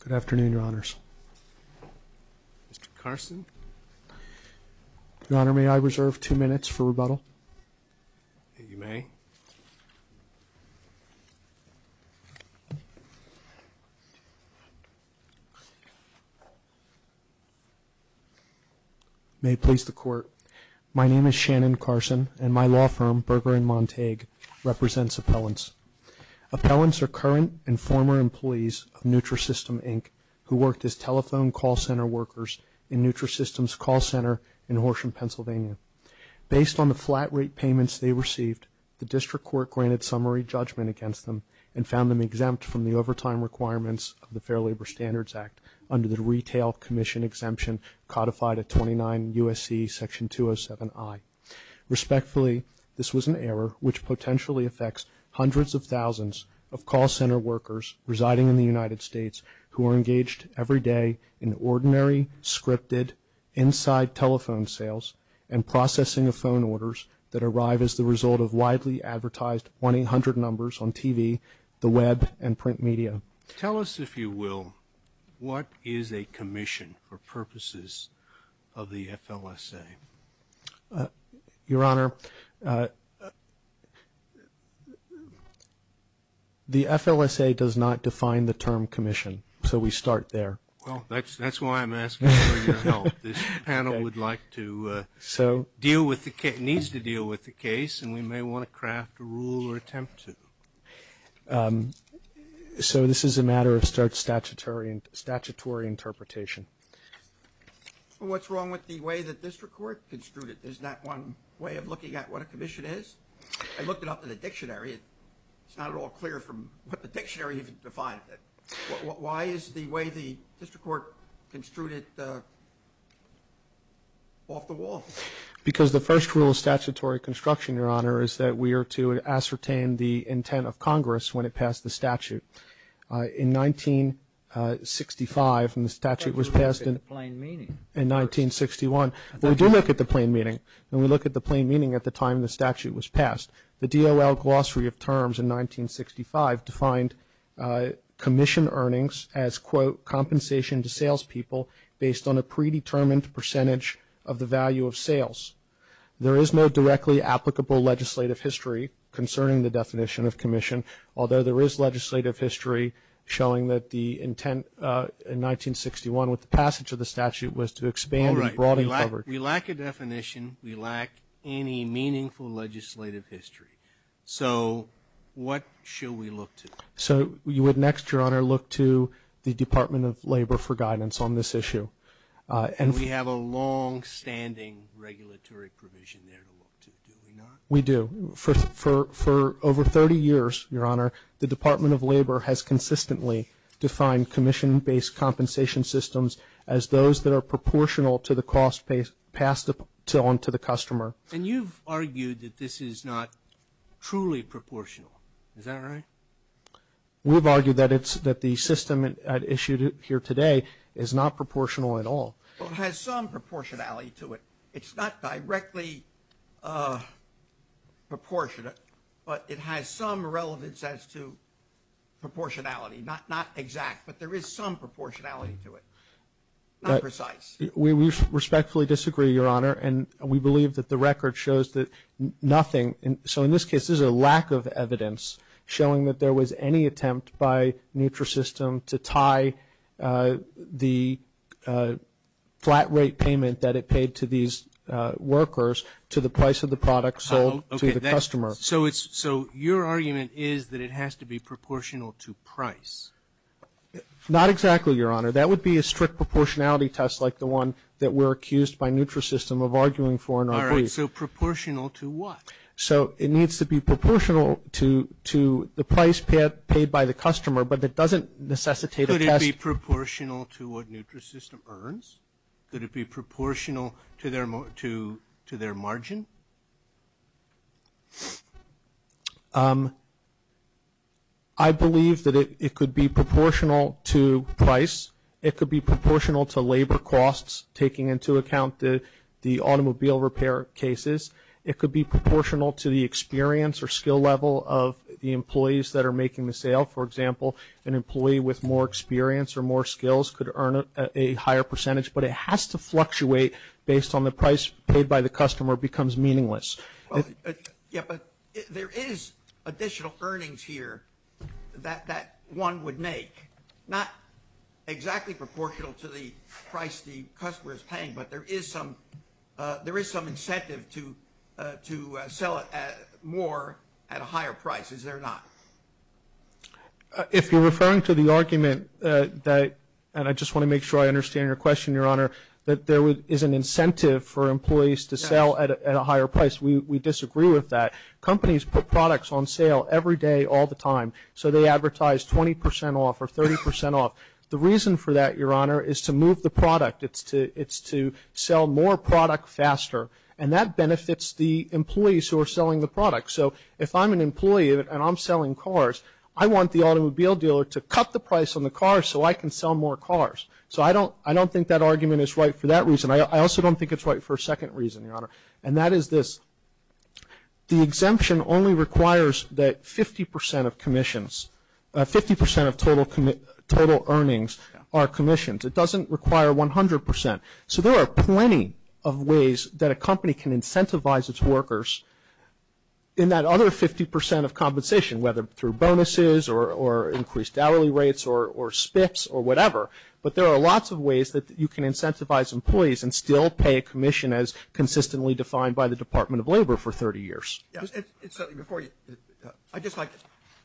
Good afternoon your honors. Mr. Carson. Your honor, may I reserve two minutes for rebuttal? You may. May it please the court. My name is Shannon Carson and my law firm, Berger and Montague represents appellants. Appellants are current and former employees of Nutrisystems Inc. who worked as telephone call center workers in Nutrisystems call center in Horsham, Pennsylvania. Based on the flat rate payments they received, the district court granted summary judgment against them and found them exempt from the overtime requirements of the Fair Labor Standards Act under the Retail Commission Exemption codified at 29 U.S.C. section 207I. Respectfully, this was an error which potentially affects hundreds of thousands of call center workers residing in the United States who are engaged every day in ordinary scripted inside telephone sales and processing of phone orders that arrive as the result of widely advertised 1-800 numbers on TV, the web, and print media. Tell us, if you will, what is a commission for purposes of the FLSA? Your Honor, the FLSA does not define the term commission, so we start there. Well, that's why I'm asking for your help. This panel would like to deal with the case, needs to deal with the case, and we may want to craft a rule or attempt to. So this is a matter of statutory interpretation. What's wrong with the way the district court construed it? There's not one way of looking at what a commission is? I looked it up in the dictionary. It's not at all clear from what the dictionary even defined it. Why is the way the district court construed it off the wall? Because the first rule of statutory construction, Your Honor, is that we are to ascertain the intent of Congress when it passed the statute. In 1965, when the statute was passed in 1961, we do look at the plain meaning. When we look at the plain meaning at the time the statute was passed, the DOL glossary of terms in 1965 defined commission earnings as, quote, compensation to salespeople based on a predetermined percentage of the value of sales. There is no directly applicable legislative history concerning the definition of commission, although there is legislative history showing that the intent in 1961 with the passage of the statute was to expand and broaden coverage. All right. We lack a definition. We lack any meaningful legislative history. So what should we look to? So you would next, Your Honor, look to the Department of Labor for guidance on this issue. And we have a longstanding regulatory provision there to look to, do we not? We do. For over 30 years, Your Honor, the Department of Labor has consistently defined commission-based compensation systems as those that are proportional to the cost passed on to the customer. And you've argued that this is not truly proportional. Is that true? You've argued that the system issued here today is not proportional at all. Well, it has some proportionality to it. It's not directly proportionate, but it has some relevance as to proportionality. Not exact, but there is some proportionality to it. Not precise. We respectfully disagree, Your Honor, and we believe that the record shows that nothing So in this case, this is a lack of evidence showing that there was any attempt by Nutrisystem to tie the flat rate payment that it paid to these workers to the price of the product sold to the customer. So your argument is that it has to be proportional to price? Not exactly, Your Honor. That would be a strict proportionality test like the one that we're So it needs to be proportional to the price paid by the customer, but it doesn't necessitate a test Could it be proportional to what Nutrisystem earns? Could it be proportional to their margin? I believe that it could be proportional to price. It could be proportional to labor costs taking into account the automobile repair cases. It could be proportional to the experience or skill level of the employees that are making the sale. For example, an employee with more experience or more skills could earn a higher percentage, but it has to fluctuate based on the price paid by the customer becomes meaningless. There is additional earnings here that one would make. Not exactly proportional to the price the customer is paying, but there is some incentive to sell more at a higher price. Is there not? If you're referring to the argument that, and I just want to make sure I understand your question, Your Honor, that there is an incentive for employees to sell at a higher price, we disagree with that. Companies put products on sale every day all the time, so they advertise 20 percent off or 30 percent off. The reason for that, Your Honor, is to move the product. It's to sell more product faster, and that benefits the employees who are selling the product. If I'm an employee and I'm selling cars, I want the automobile dealer to cut the price on the car so I can sell more cars. I don't think that argument is right for that reason. I also don't think it's right for a second reason, Your Honor, and that is this. The exemption only requires that 50 percent of commissions, 50 percent of total earnings are commissions. It doesn't require 100 percent. So there are plenty of ways that a company can incentivize its workers in that other 50 percent of compensation, whether through bonuses or increased hourly rates or spits or whatever, but there are lots of ways that you can incentivize employees and still pay a commission as consistently defined by the Department of Labor for 30 years. It's something before you. I'd just like,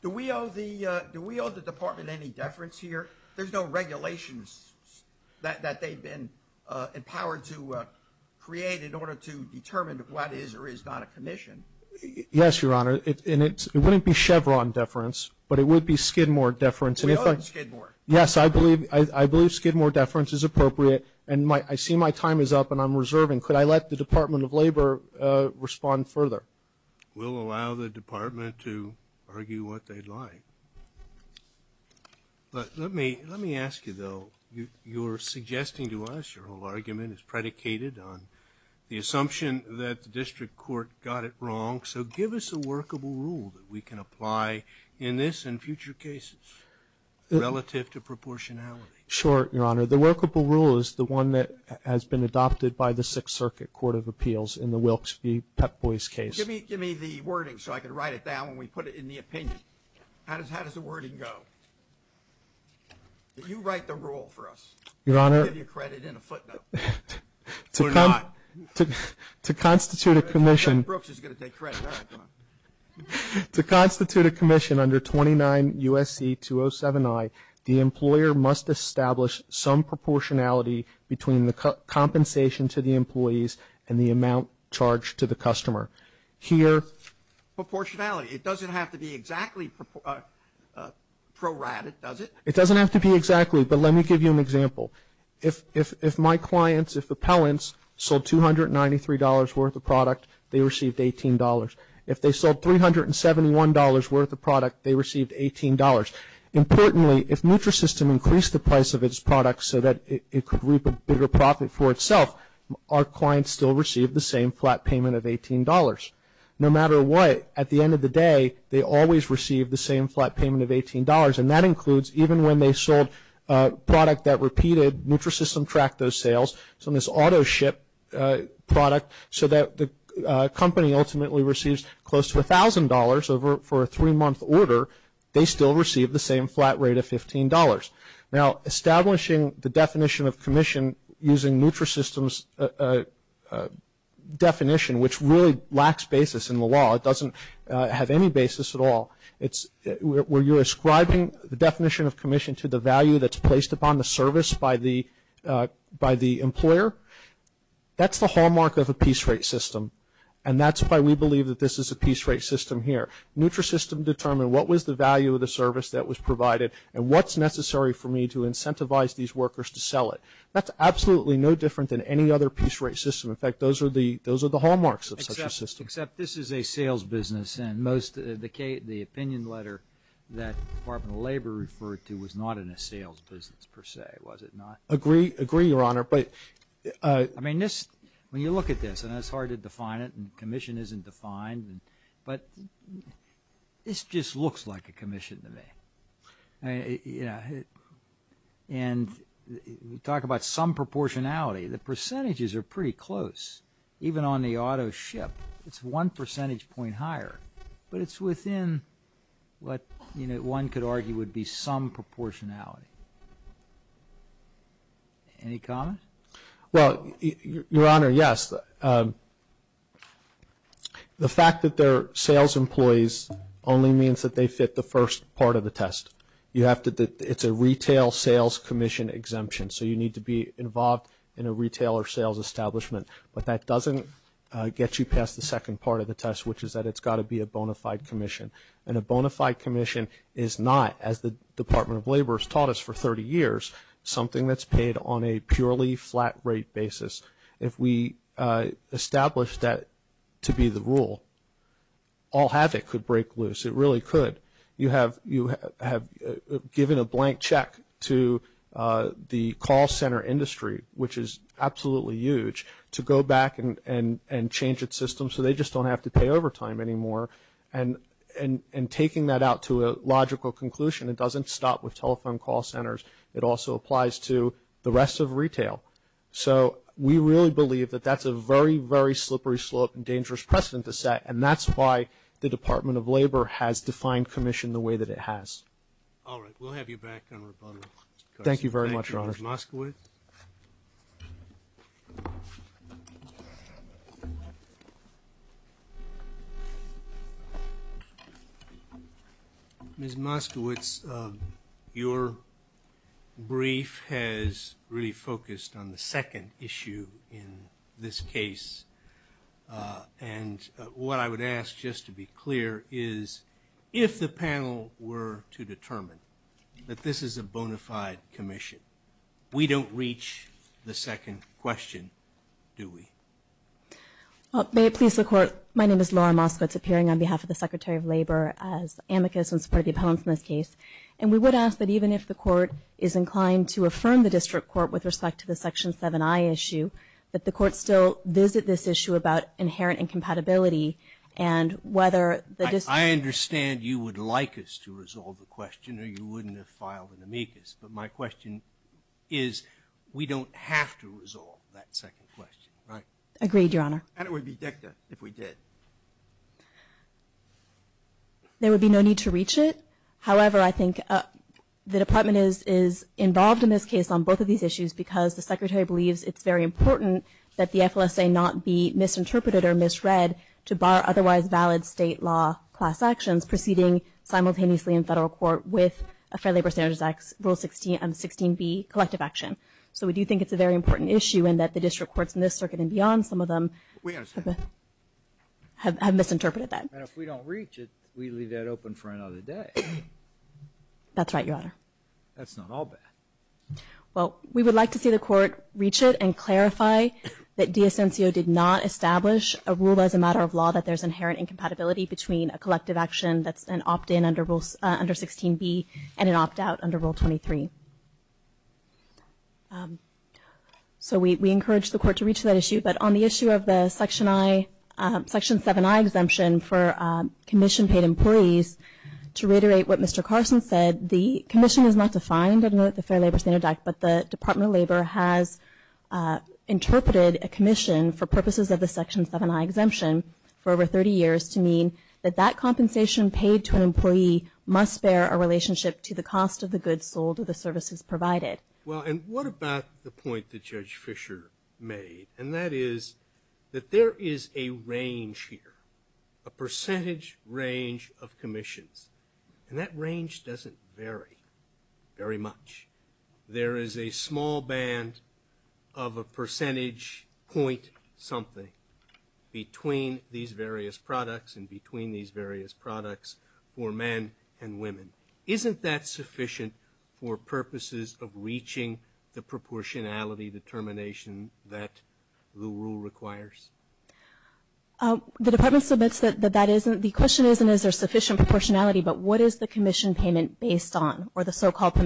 do we owe the Department any deference here? There's no regulations that they've been empowered to create in order to determine what is or is not a commission. Yes, Your Honor, and it wouldn't be Chevron deference, but it would be Skidmore deference. We owe them Skidmore. Yes, I believe Skidmore deference is appropriate, and I see my time is up and I'm reserving. Mr. Chairman, could I let the Department of Labor respond further? We'll allow the Department to argue what they'd like, but let me ask you though. You're suggesting to us your whole argument is predicated on the assumption that the District Court got it wrong, so give us a workable rule that we can apply in this and future cases relative to proportionality. Sure, Your Honor. The workable rule is the one that has been adopted by the Sixth Circuit Court of Appeals in the Wilkes v. Pep Boys case. Give me the wording so I can write it down when we put it in the opinion. How does the wording go? You write the rule for us. I'll give you credit in a footnote. To constitute a commission under 29 U.S.C. 207I, the employer must establish some proportionality between the compensation to the employees and the amount charged to the customer. Here... Proportionality. It doesn't have to be exactly prorated, does it? It doesn't have to be exactly, but let me give you an example. If my clients, if appellants, sold $293 worth of product, they received $18. If they sold $371 worth of product, they received $18. Importantly, if NutriSystem increased the price of its products so that it could reap a bigger profit for itself, our clients still received the same flat payment of $18. No matter what, at the end of the day, they always received the same flat payment of $18, and that includes even when they sold a product that repeated, NutriSystem tracked those sales, so this auto ship product, so that the company ultimately receives close to $1,000 for a three-month order, they still received the same flat rate of $15. Now, establishing the definition of commission using NutriSystem's definition, which really lacks basis in the law, it doesn't have any basis at all, where you're ascribing the definition of commission to the value that's placed upon the service by the employer, that's the hallmark of a piece rate system, and that's why we believe that this is a piece rate system here. NutriSystem determined what was the value of the service that was provided and what's necessary for me to incentivize these workers to sell it. That's absolutely no different than any other piece rate system. In fact, those are the hallmarks of such a system. Except this is a sales business, and the opinion letter that the Department of Labor referred to was not in a sales business, per se, was it not? Agree, Your Honor, but... I mean, when you look at this, and it's hard to define it, and commission isn't defined, but this just looks like a commission to me. And we talk about some proportionality. The percentages are pretty close, even on the auto ship. It's one percentage point higher, but it's within what one could argue would be some proportionality. Any comments? Well, Your Honor, yes. The fact that they're sales employees only means that they fit the first part of the test. You have to... it's a retail sales commission exemption, so you need to be involved in a retail or sales establishment. But that doesn't get you past the second part of the test, which is that it's got to be a bona fide commission. And a bona fide commission is not, as the Department of Labor has taught us for 30 years, something that's paid on a purely flat-rate basis. If we establish that to be the rule, all havoc could break loose. It really could. You have given a blank check to the call centre industry, which is absolutely huge, to go back and change its system so they just don't have to pay overtime anymore. And taking that out to a logical conclusion, it doesn't stop with telephone call centres. It also applies to the rest of retail. So we really believe that that's a very, very slippery slope and dangerous precedent to set, and that's why the Department of Labor has defined commission the way that it has. All right, we'll have you back on rebuttal. Thank you, Ms. Moskowitz. Thank you. Ms. Moskowitz, your brief has really focused on the second issue in this case. And what I would ask, just to be clear, is if the panel were to determine that this is a bona fide commission, we don't reach the second question, do we? May it please the Court, my name is Laura Moskowitz, appearing on behalf of the Secretary of Labor as amicus in support of the appellants in this case. And we would ask that even if the Court is inclined to affirm the district court with respect to the Section 7i issue, that the Court still visit this issue about inherent incompatibility and whether the district... I understand you would like us to resolve the question or you wouldn't have filed an amicus, but my question is, we don't have to resolve that second question, right? Agreed, Your Honor. And it would be dicta if we did. There would be no need to reach it. However, I think the Department is involved in this case on both of these issues because the Secretary believes it's very important that the FLSA not be misinterpreted or misread to bar otherwise valid state law class actions proceeding simultaneously in federal court with a Fair Labor Standards Act Rule 16b, collective action. So we do think it's a very important issue and that the district courts in this circuit and beyond, some of them... We understand. ...have misinterpreted that. And if we don't reach it, we leave that open for another day. That's right, Your Honor. That's not all bad. Well, we would like to see the Court reach it and clarify that DSNCO did not establish a rule as a matter of law that there's inherent incompatibility between a collective action that's an opt-in under Rule 16b and an opt-out under Rule 23. So we encourage the Court to reach that issue. But on the issue of the Section 7i exemption for commission-paid employees, to reiterate what Mr. Carson said, the commission is not defined under the Fair Labor Standards Act, but the Department of Labor has interpreted a commission for purposes of the Section 7i exemption for over 30 years to mean that that compensation paid to an employee must bear a relationship to the cost of the goods sold or the services provided. Well, and what about the point that Judge Fisher made? And that is that there is a range here, a percentage range of commissions. And that range doesn't vary very much. There is a small band of a percentage point something between these various products and between these various products for men and women. Isn't that sufficient for purposes of reaching the proportionality determination that the rule requires? The Department submits that that isn't. The question isn't, is there sufficient proportionality, but what is the commission payment based on or the so-called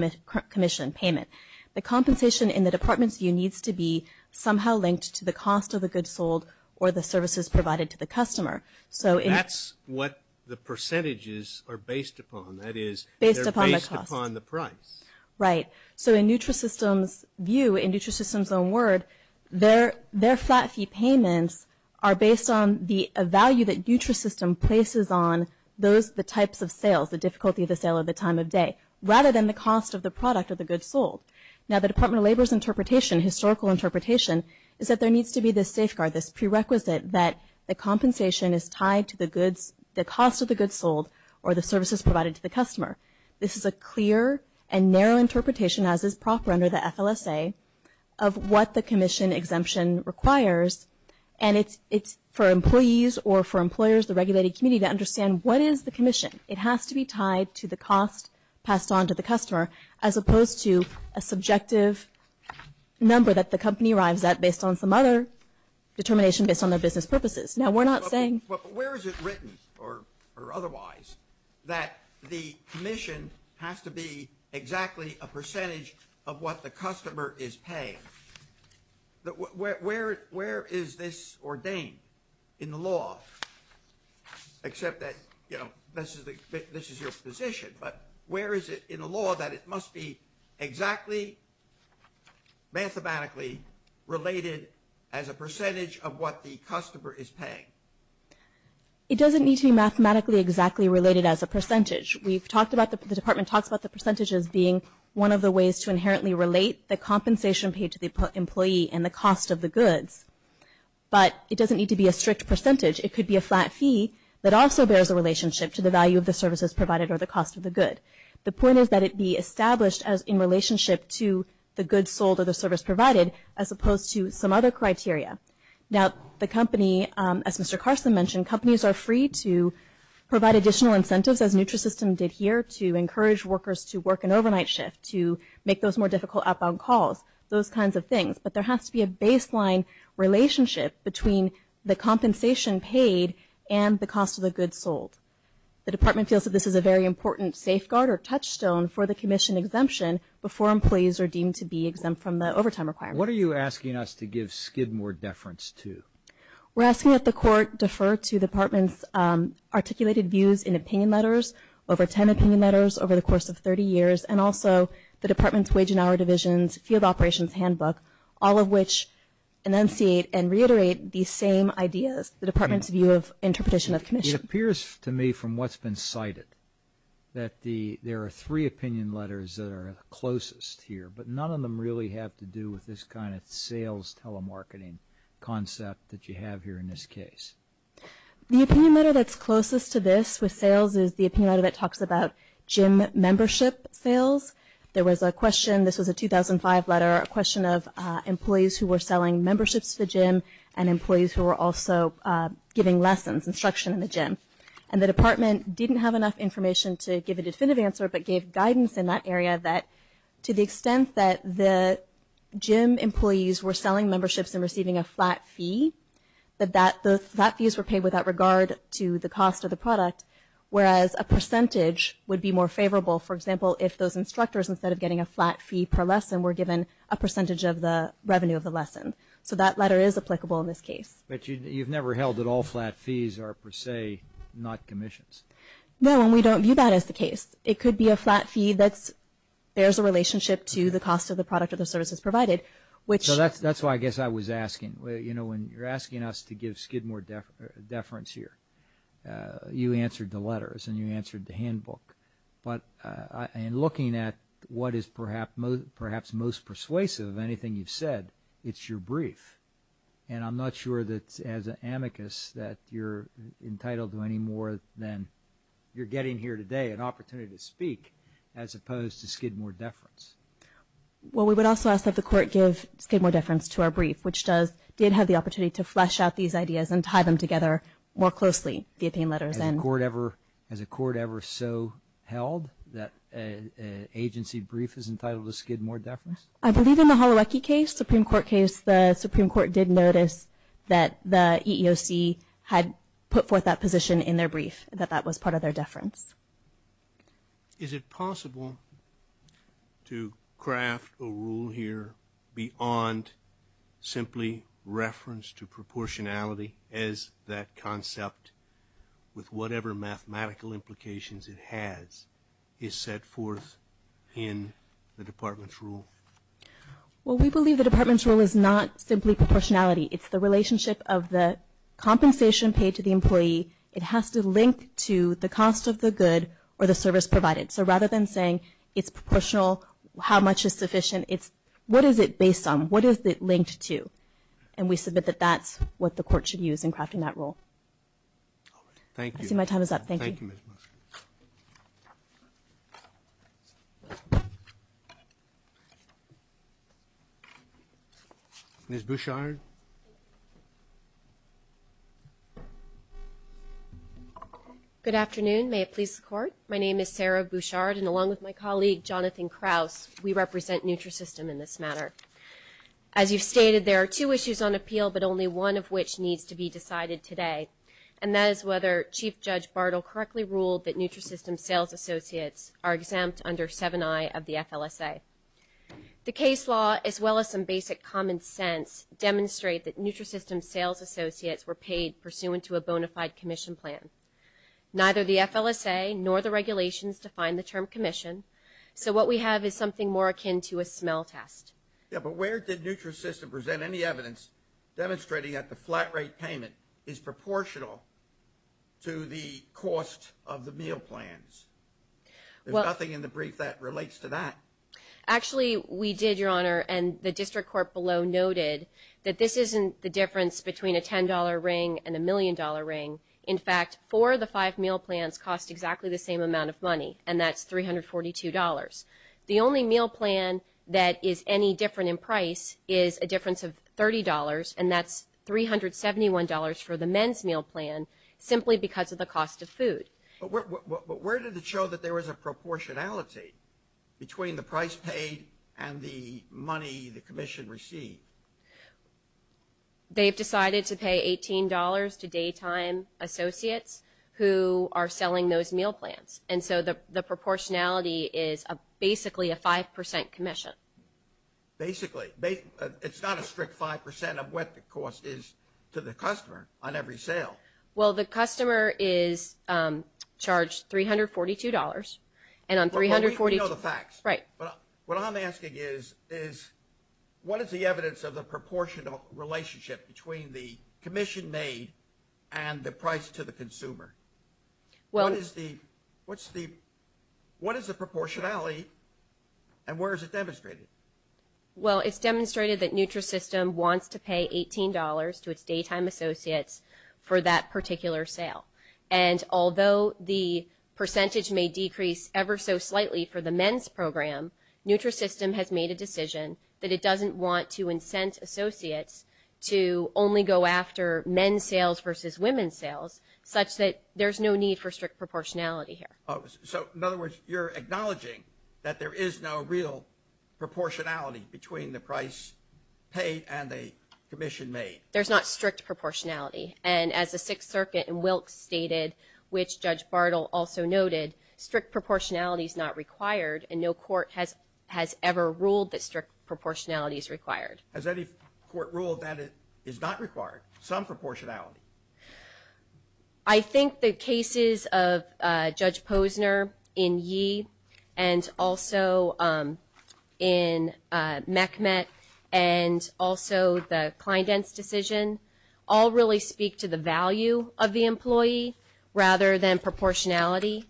commission payment? The compensation in the Department's view needs to be somehow linked to the cost of the goods sold or the services provided to the customer. That's what the percentages are based upon. That is, they're based upon the price. Right. So in NutriSystem's view, in NutriSystem's own word, their flat fee payments are based on the value that NutriSystem places on the types of sales, the difficulty of the sale or the time of day, rather than the cost of the product or the goods sold. Now, the Department of Labor's interpretation, historical interpretation, is that there needs to be this safeguard, this prerequisite that the compensation is tied to the goods, the cost of the goods sold or the services provided to the customer. This is a clear and narrow interpretation, as is proper under the FLSA, of what the commission exemption requires, and it's for employees or for employers, the regulated community, to understand what is the commission. It has to be tied to the cost passed on to the customer as opposed to a subjective number that the company arrives at based on some other determination based on their business purposes. Now, we're not saying... But where is it written, or otherwise, that the commission has to be exactly a percentage of what the customer is paying? Where is this ordained in the law? Except that, you know, this is your position, but where is it in the law that it must be exactly mathematically related as a percentage of what the customer is paying? It doesn't need to be mathematically exactly related as a percentage. We've talked about... The department talks about the percentages being one of the ways to inherently relate the compensation paid to the employee and the cost of the goods, but it doesn't need to be a strict percentage. It could be a flat fee that also bears a relationship to the value of the services provided or the cost of the good. The point is that it be established in relationship to the goods sold or the service provided as opposed to some other criteria. Now, the company, as Mr. Carson mentioned, companies are free to provide additional incentives as NutriSystem did here to encourage workers to work an overnight shift, to make those more difficult outbound calls, those kinds of things, but there has to be a baseline relationship between the compensation paid and the cost of the goods sold. The department feels that this is a very important safeguard or touchstone for the commission exemption before employees are deemed to be exempt from the overtime requirement. What are you asking us to give skid more deference to? We're asking that the court defer to the department's articulated views in opinion letters, over ten opinion letters over the course of 30 years, and also the department's Wage and Hour Divisions Field Operations Handbook, all of which enunciate and reiterate these same ideas, the department's view of interpretation of commission. It appears to me from what's been cited that there are three opinion letters that are closest here, but none of them really have to do with this kind of sales telemarketing concept that you have here in this case. The opinion letter that's closest to this with sales is the opinion letter that talks about gym membership sales. There was a question, this was a 2005 letter, a question of employees who were selling memberships to the gym and employees who were also giving lessons, instruction in the gym, and the department didn't have enough information to give a definitive answer, but gave guidance in that area that to the extent that the gym employees were selling memberships and receiving a flat fee, that those flat fees were paid without regard to the cost of the product, whereas a percentage would be more favorable, for example, if those instructors instead of getting a flat fee per lesson were given a percentage of the revenue of the lesson. So that letter is applicable in this case. But you've never held that all flat fees are per se not commissions? No, and we don't view that as the case. It could be a flat fee that bears a relationship to the cost of the product or the services provided. So that's why I guess I was asking. You know, when you're asking us to give Skidmore deference here, you answered the letters the handbook, but in looking at what is perhaps most persuasive of anything you've said, it's your brief. And I'm not sure that as an amicus that you're entitled to any more than you're getting here today an opportunity to speak as opposed to Skidmore deference. Well, we would also ask that the court give Skidmore deference to our brief, which did have the opportunity to flesh out these ideas and tie them together more closely via pain letters. Has a court ever so held that an agency brief is entitled to Skidmore deference? I believe in the Holowecki case, Supreme Court case, the Supreme Court did notice that the EEOC had put forth that position in their brief that that was part of their deference. Is it possible to craft a rule here beyond reference to proportionality as that concept with whatever mathematical implications it has is set forth in the department's rule? Well, we believe the department's rule is not simply proportionality. It's the relationship of the compensation paid to the employee. It has to link to the cost of the good or the service provided. So rather than saying it's proportional how much is sufficient it's what is it based on? What is it linked to? And we submit that that's what the court should use in crafting that rule. Thank you. I see my time is up. Thank you. Thank you, Ms. Musgrave. Ms. Bouchard. Good afternoon. May it please the court. My name is Sarah Bouchard and along with my colleague Jonathan Krauss we represent Nutrisystem in this matter. As you've stated there are two issues on appeal but only one of which needs to be decided today and that is whether Chief Judge Bartle correctly ruled that Nutrisystem sales associates are exempt under 7i of the FLSA. The case law as well as some basic common sense demonstrate that Nutrisystem sales associates were paid pursuant to a bonafide commission plan. Neither the FLSA nor the regulations define the term commission so what we have is something more akin to a smell test. Yeah, but where did Nutrisystem present any evidence demonstrating that the flat rate payment is proportional to the cost of the meal plans? There's nothing in the brief that relates to that. Actually we did, Your Honor and the district court below noted that this isn't the difference between a $10 ring and a million dollar ring. In fact four of the five meal plans cost exactly the same amount of money and that's $342. The only meal plan that is any different in price is a difference of $30 and that's $371 for the men's meal plan simply because of the cost of food. But where did it show that there was a proportionality between the price paid and the money the commission received? They've decided to pay $18 to daytime associates who are selling those meal plans and so the proportionality is basically a 5% commission. Basically it's not a strict 5% of what the cost is to the customer on every sale. Well the customer is charged $342 and on $342 Right. What I'm asking is what is the evidence of the proportional relationship between the commission made and the price to the consumer? What is the what's the what is the proportionality and where is it demonstrated? Well it's demonstrated that Nutrisystem wants to pay $18 to its daytime associates for that particular sale and although the percentage may decrease ever so slightly for the men's program Nutrisystem has made a decision that it doesn't want to incent associates to only go after men's sales versus women's sales such that there's no need for pay and the commission made. There's not strict proportionality and as the Sixth Circuit and Wilkes stated which Judge Bartle also noted strict proportionality is not required and no court has ever ruled that strict proportionality is required. Has any court ruled that it is not required? Some proportionality? I think the cases of Judge Posner in Yee and also in Mehmet and also the Kleindenz decision all really speak to the value of the employee rather than proportionality.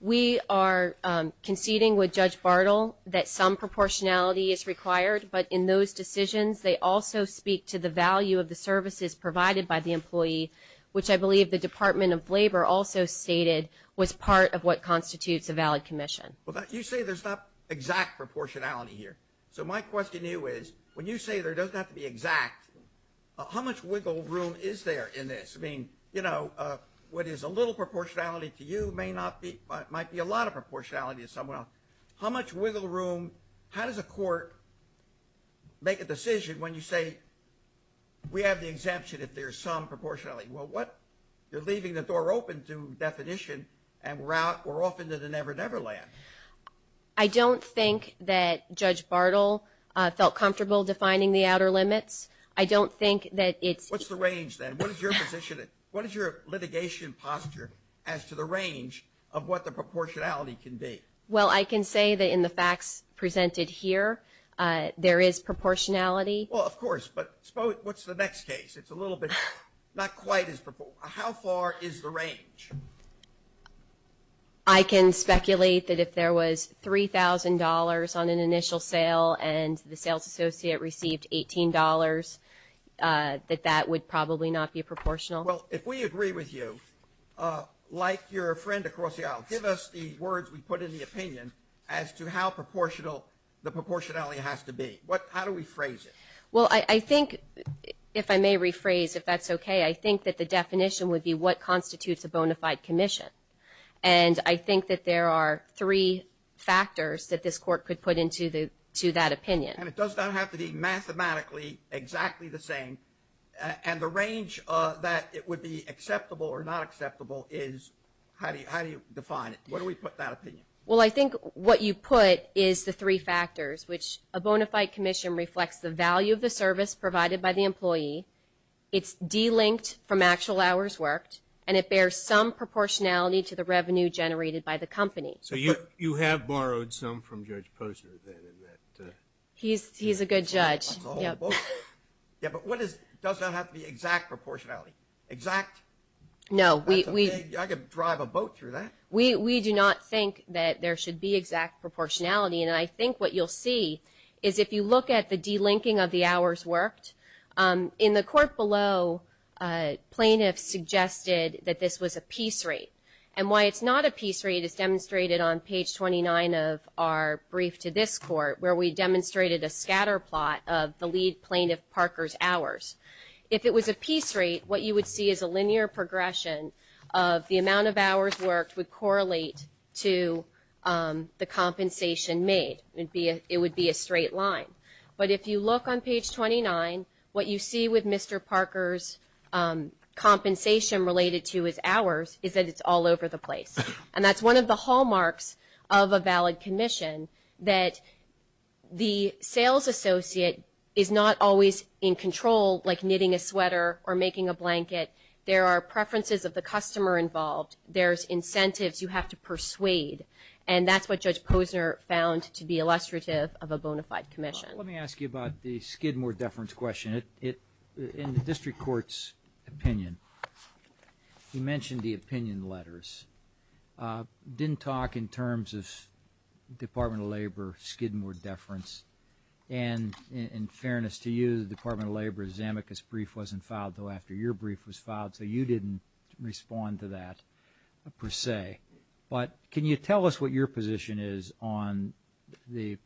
We are conceding with Judge Bartle that some proportionality is required but in those decisions they also speak to the value of the services provided by the employee which I believe the Department of Labor also stated was part of what constitutes a valid commission. You say there's not exact proportionality here. So my question to you is when you say there doesn't have to be exact how much wiggle room is there in this? I mean you know what is a little proportionality to you might be a lot of proportionality to someone else. How much wiggle room how does a court make a decision when you say we have the exemption if there is some proportionality? Well what you're leaving the door open to definition and we're off into the never never land. I don't think that Judge Bartle felt comfortable defining the outer limits. I don't think that it's what's the range then? What is your position what is your litigation posture as to the range of what the proportionality can be? Well I can say that in the facts presented here there is proportionality. Well of course but suppose what's the next case? It's a little bit not quite as how far is the range? I can speculate that if there was $3,000 on an initial sale and the sales associate received $18 that that would probably not be proportional. Well if we agree with you like your friend across the aisle give us the words we put in the opinion as to how proportional the proportionality has to be. How do we phrase it? Well I think if I may rephrase if that's okay I think that the definition would be what constitutes a bona fide commission and I think that there are three factors that this court could put into that opinion. And it does not have to be mathematically exactly the same and the range that it would be acceptable or not acceptable is how do you define it? What do we put in that opinion? Well I think what you put is the three factors which a bona fide commission reflects the value of the service that it provides. Yeah but what is does not have to be exact proportionality? Exact? No. I could drive a boat through that. We do not think that there should be exact proportionality and I think what Mr. was that Mr. Parker's hours if it was a piece rate what you would see is a linear progression of the amount of hours worked would correlate to the compensation made. It would not be a straight line. But if you look on page 29 what you see with Mr. Parker's compensation related to his hours is that it's all over the place. And that's one of the hallmarks of a valid commission that the sales associate is not always in control like knitting a sweater or making a blanket. There are preferences of the customer involved. There's incentives you have to persuade and that's what the Skidmore Deference question is. In the District Court's opinion you mentioned the opinion letters. Didn't talk in terms of Department of Labor Skidmore Deference and in fairness to you the Department of Labor brief wasn't filed after your brief was filed so you didn't respond to that per se. But can you tell us what your position is on the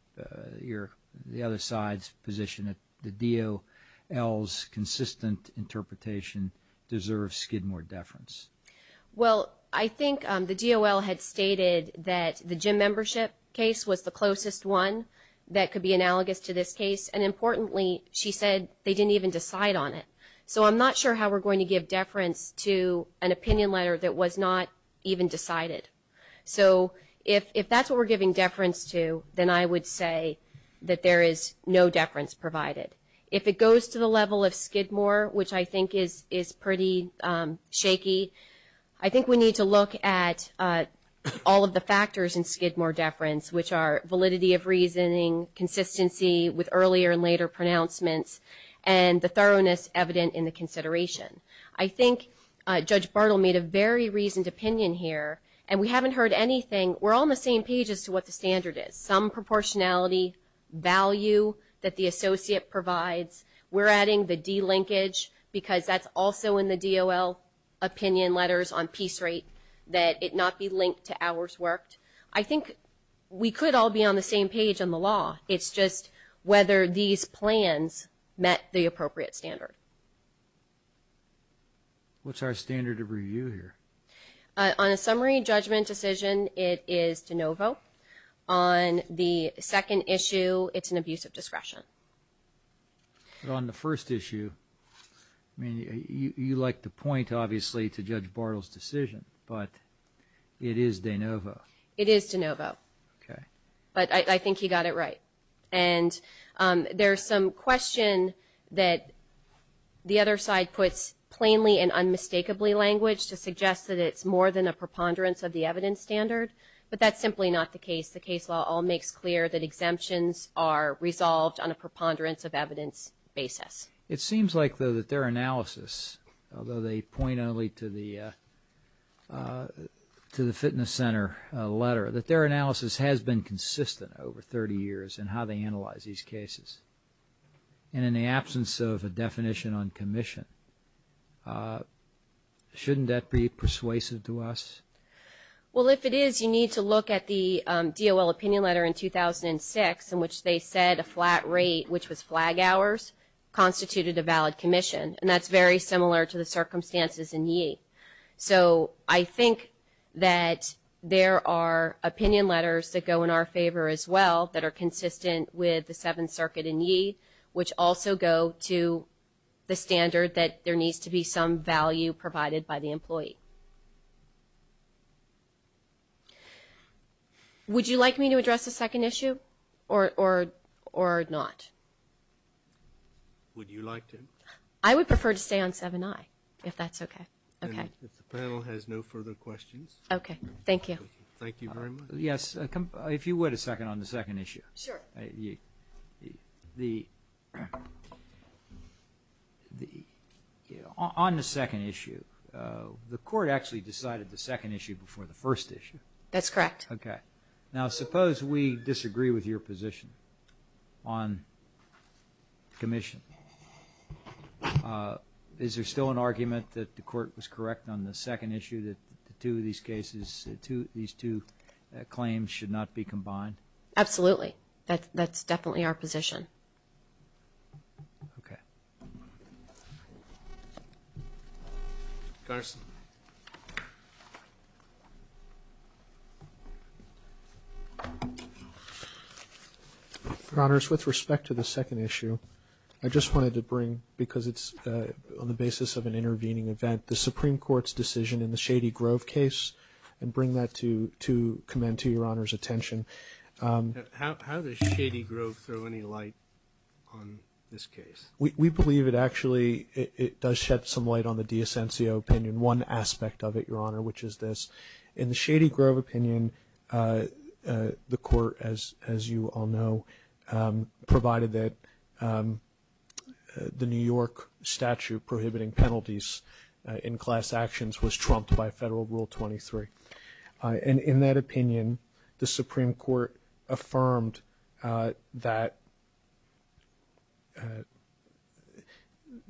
other side's position that the DOL's consistent interpretation deserves Skidmore Deference? Well I think the DOL had stated that the gym membership case was the closest one that could be analogous to this case and importantly she said they didn't even decide on it so I'm not sure how we're going to do that but I think we need to look at all of the factors in Skidmore Deference which are validity of reasoning consistency with earlier and later pronouncements and the thoroughness evident in the consideration. I think Judge Bartle made a very reasoned opinion here and we haven't heard anything we're all on the same page as to what the standard is. Some of the Judge Bartle made were not consistent with the appropriate standard. What's our standard of review here? On a summary judgment decision it is de novo. On the second issue it's an abuse of discretion. On the first issue you like to point to Judge Bartle's decision but it is de novo. I think he got it right. There's some question that the other side puts plainly and unmistakably language to suggest that it's more than a preponderance of the evidence standard but that's simply not the case. The case law all makes clear that exemptions are resolved on a preponderance of evidence basis. It seems like though that their analysis although they point only to the fitness center letter that their analysis has been consistent over 30 years in how they analyze these cases and in the absence of a definition on commission shouldn't that be persuasive to us? Well if it is you need to look at the DOL opinion letter in 2006 in which they said a flat rate which was flag hours constituted a valid commission and that's very similar to the circumstances in Yee. So I think that there are opinion letters that go in our favor as well that are consistent with the Seventh Circuit in Yee which also go to the standard that there needs to be if the panel has no further questions. Okay. Thank you. Thank you very much. Yes. If you would a second on the second issue. Sure. The on the second issue the court actually decided the second issue before the issue. That's correct. Okay. Now suppose we disagree with your position on commission. Is there still an argument that the court was correct on the second issue that the two of these two claims should not be combined? Absolutely. That's definitely our position. Okay. Connors. Connors with respect to the second issue I just wanted to bring up because it's on the basis of an intervening event the Supreme Court's decision in the Shady Grove case and bring that to commend to your Honor's attention. How does Shady Grove throw any light on this case? We believe it actually it does shed some light on the De Asensio opinion. One aspect of it your Honor which is this in the Shady Grove opinion the court as you all know provided that the New York statute prohibiting penalties in class actions was trumped by Federal Rule 23. In that opinion the Supreme Court affirmed that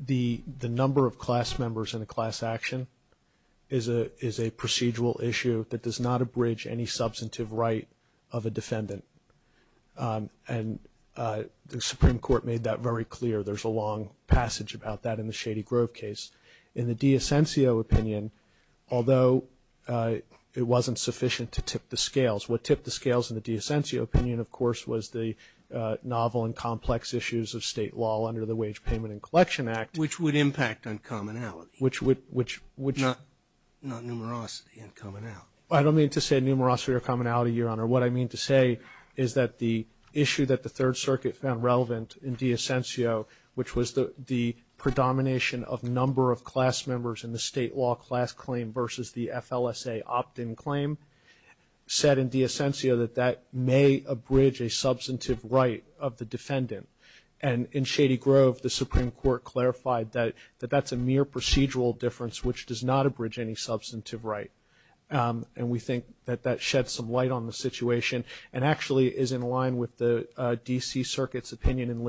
the number of class violations in the Shady Grove case was not sufficient to tip the scales. What tipped the scales in the De Asensio opinion of course was the novel and complex issues of state law under the Wage Payment and Collection Act. Which would impact on commonality. Not numerosity and commonality. I don't mean to say numerosity or commonality Your Honor. What I mean to say is that the issue that the Third Circuit found relevant in De Asensio which was the predomination of number of class members in the state law class claim versus the FLSA opt-in claim said in De Asensio that that may abridge a substantive right of the defendant. And in Shady Grove the Supreme Court clarified that that's a mere procedural difference which does not abridge any substantive right. And we think that that sheds some light on the situation and actually is in line with the definition of commission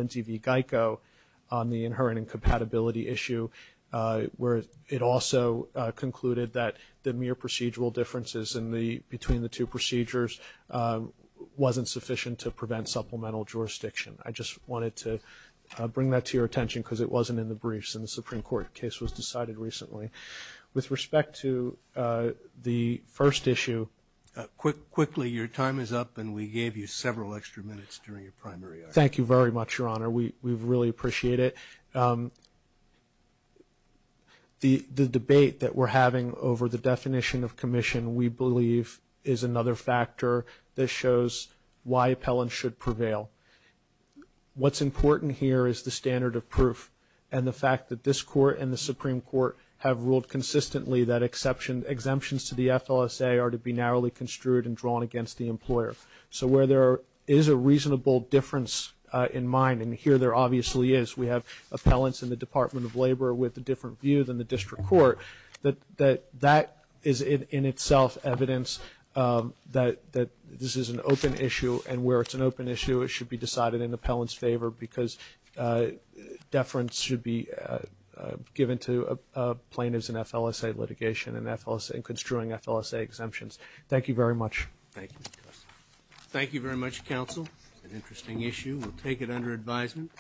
we believe is another factor that shows should prevail. What's important here is the standard of proof and the fact that the definition of commission is a standard proof and the fact that this court and the Supreme Court have ruled consistently that exemptions to the FLSA are to be narrowly construed and drawn against the employer. So where there is given to plaintiffs in FLSA litigation and construing FLSA exemptions. Thank you very much. Thank you very much counsel. It's an interesting issue. We'll take it under advisement.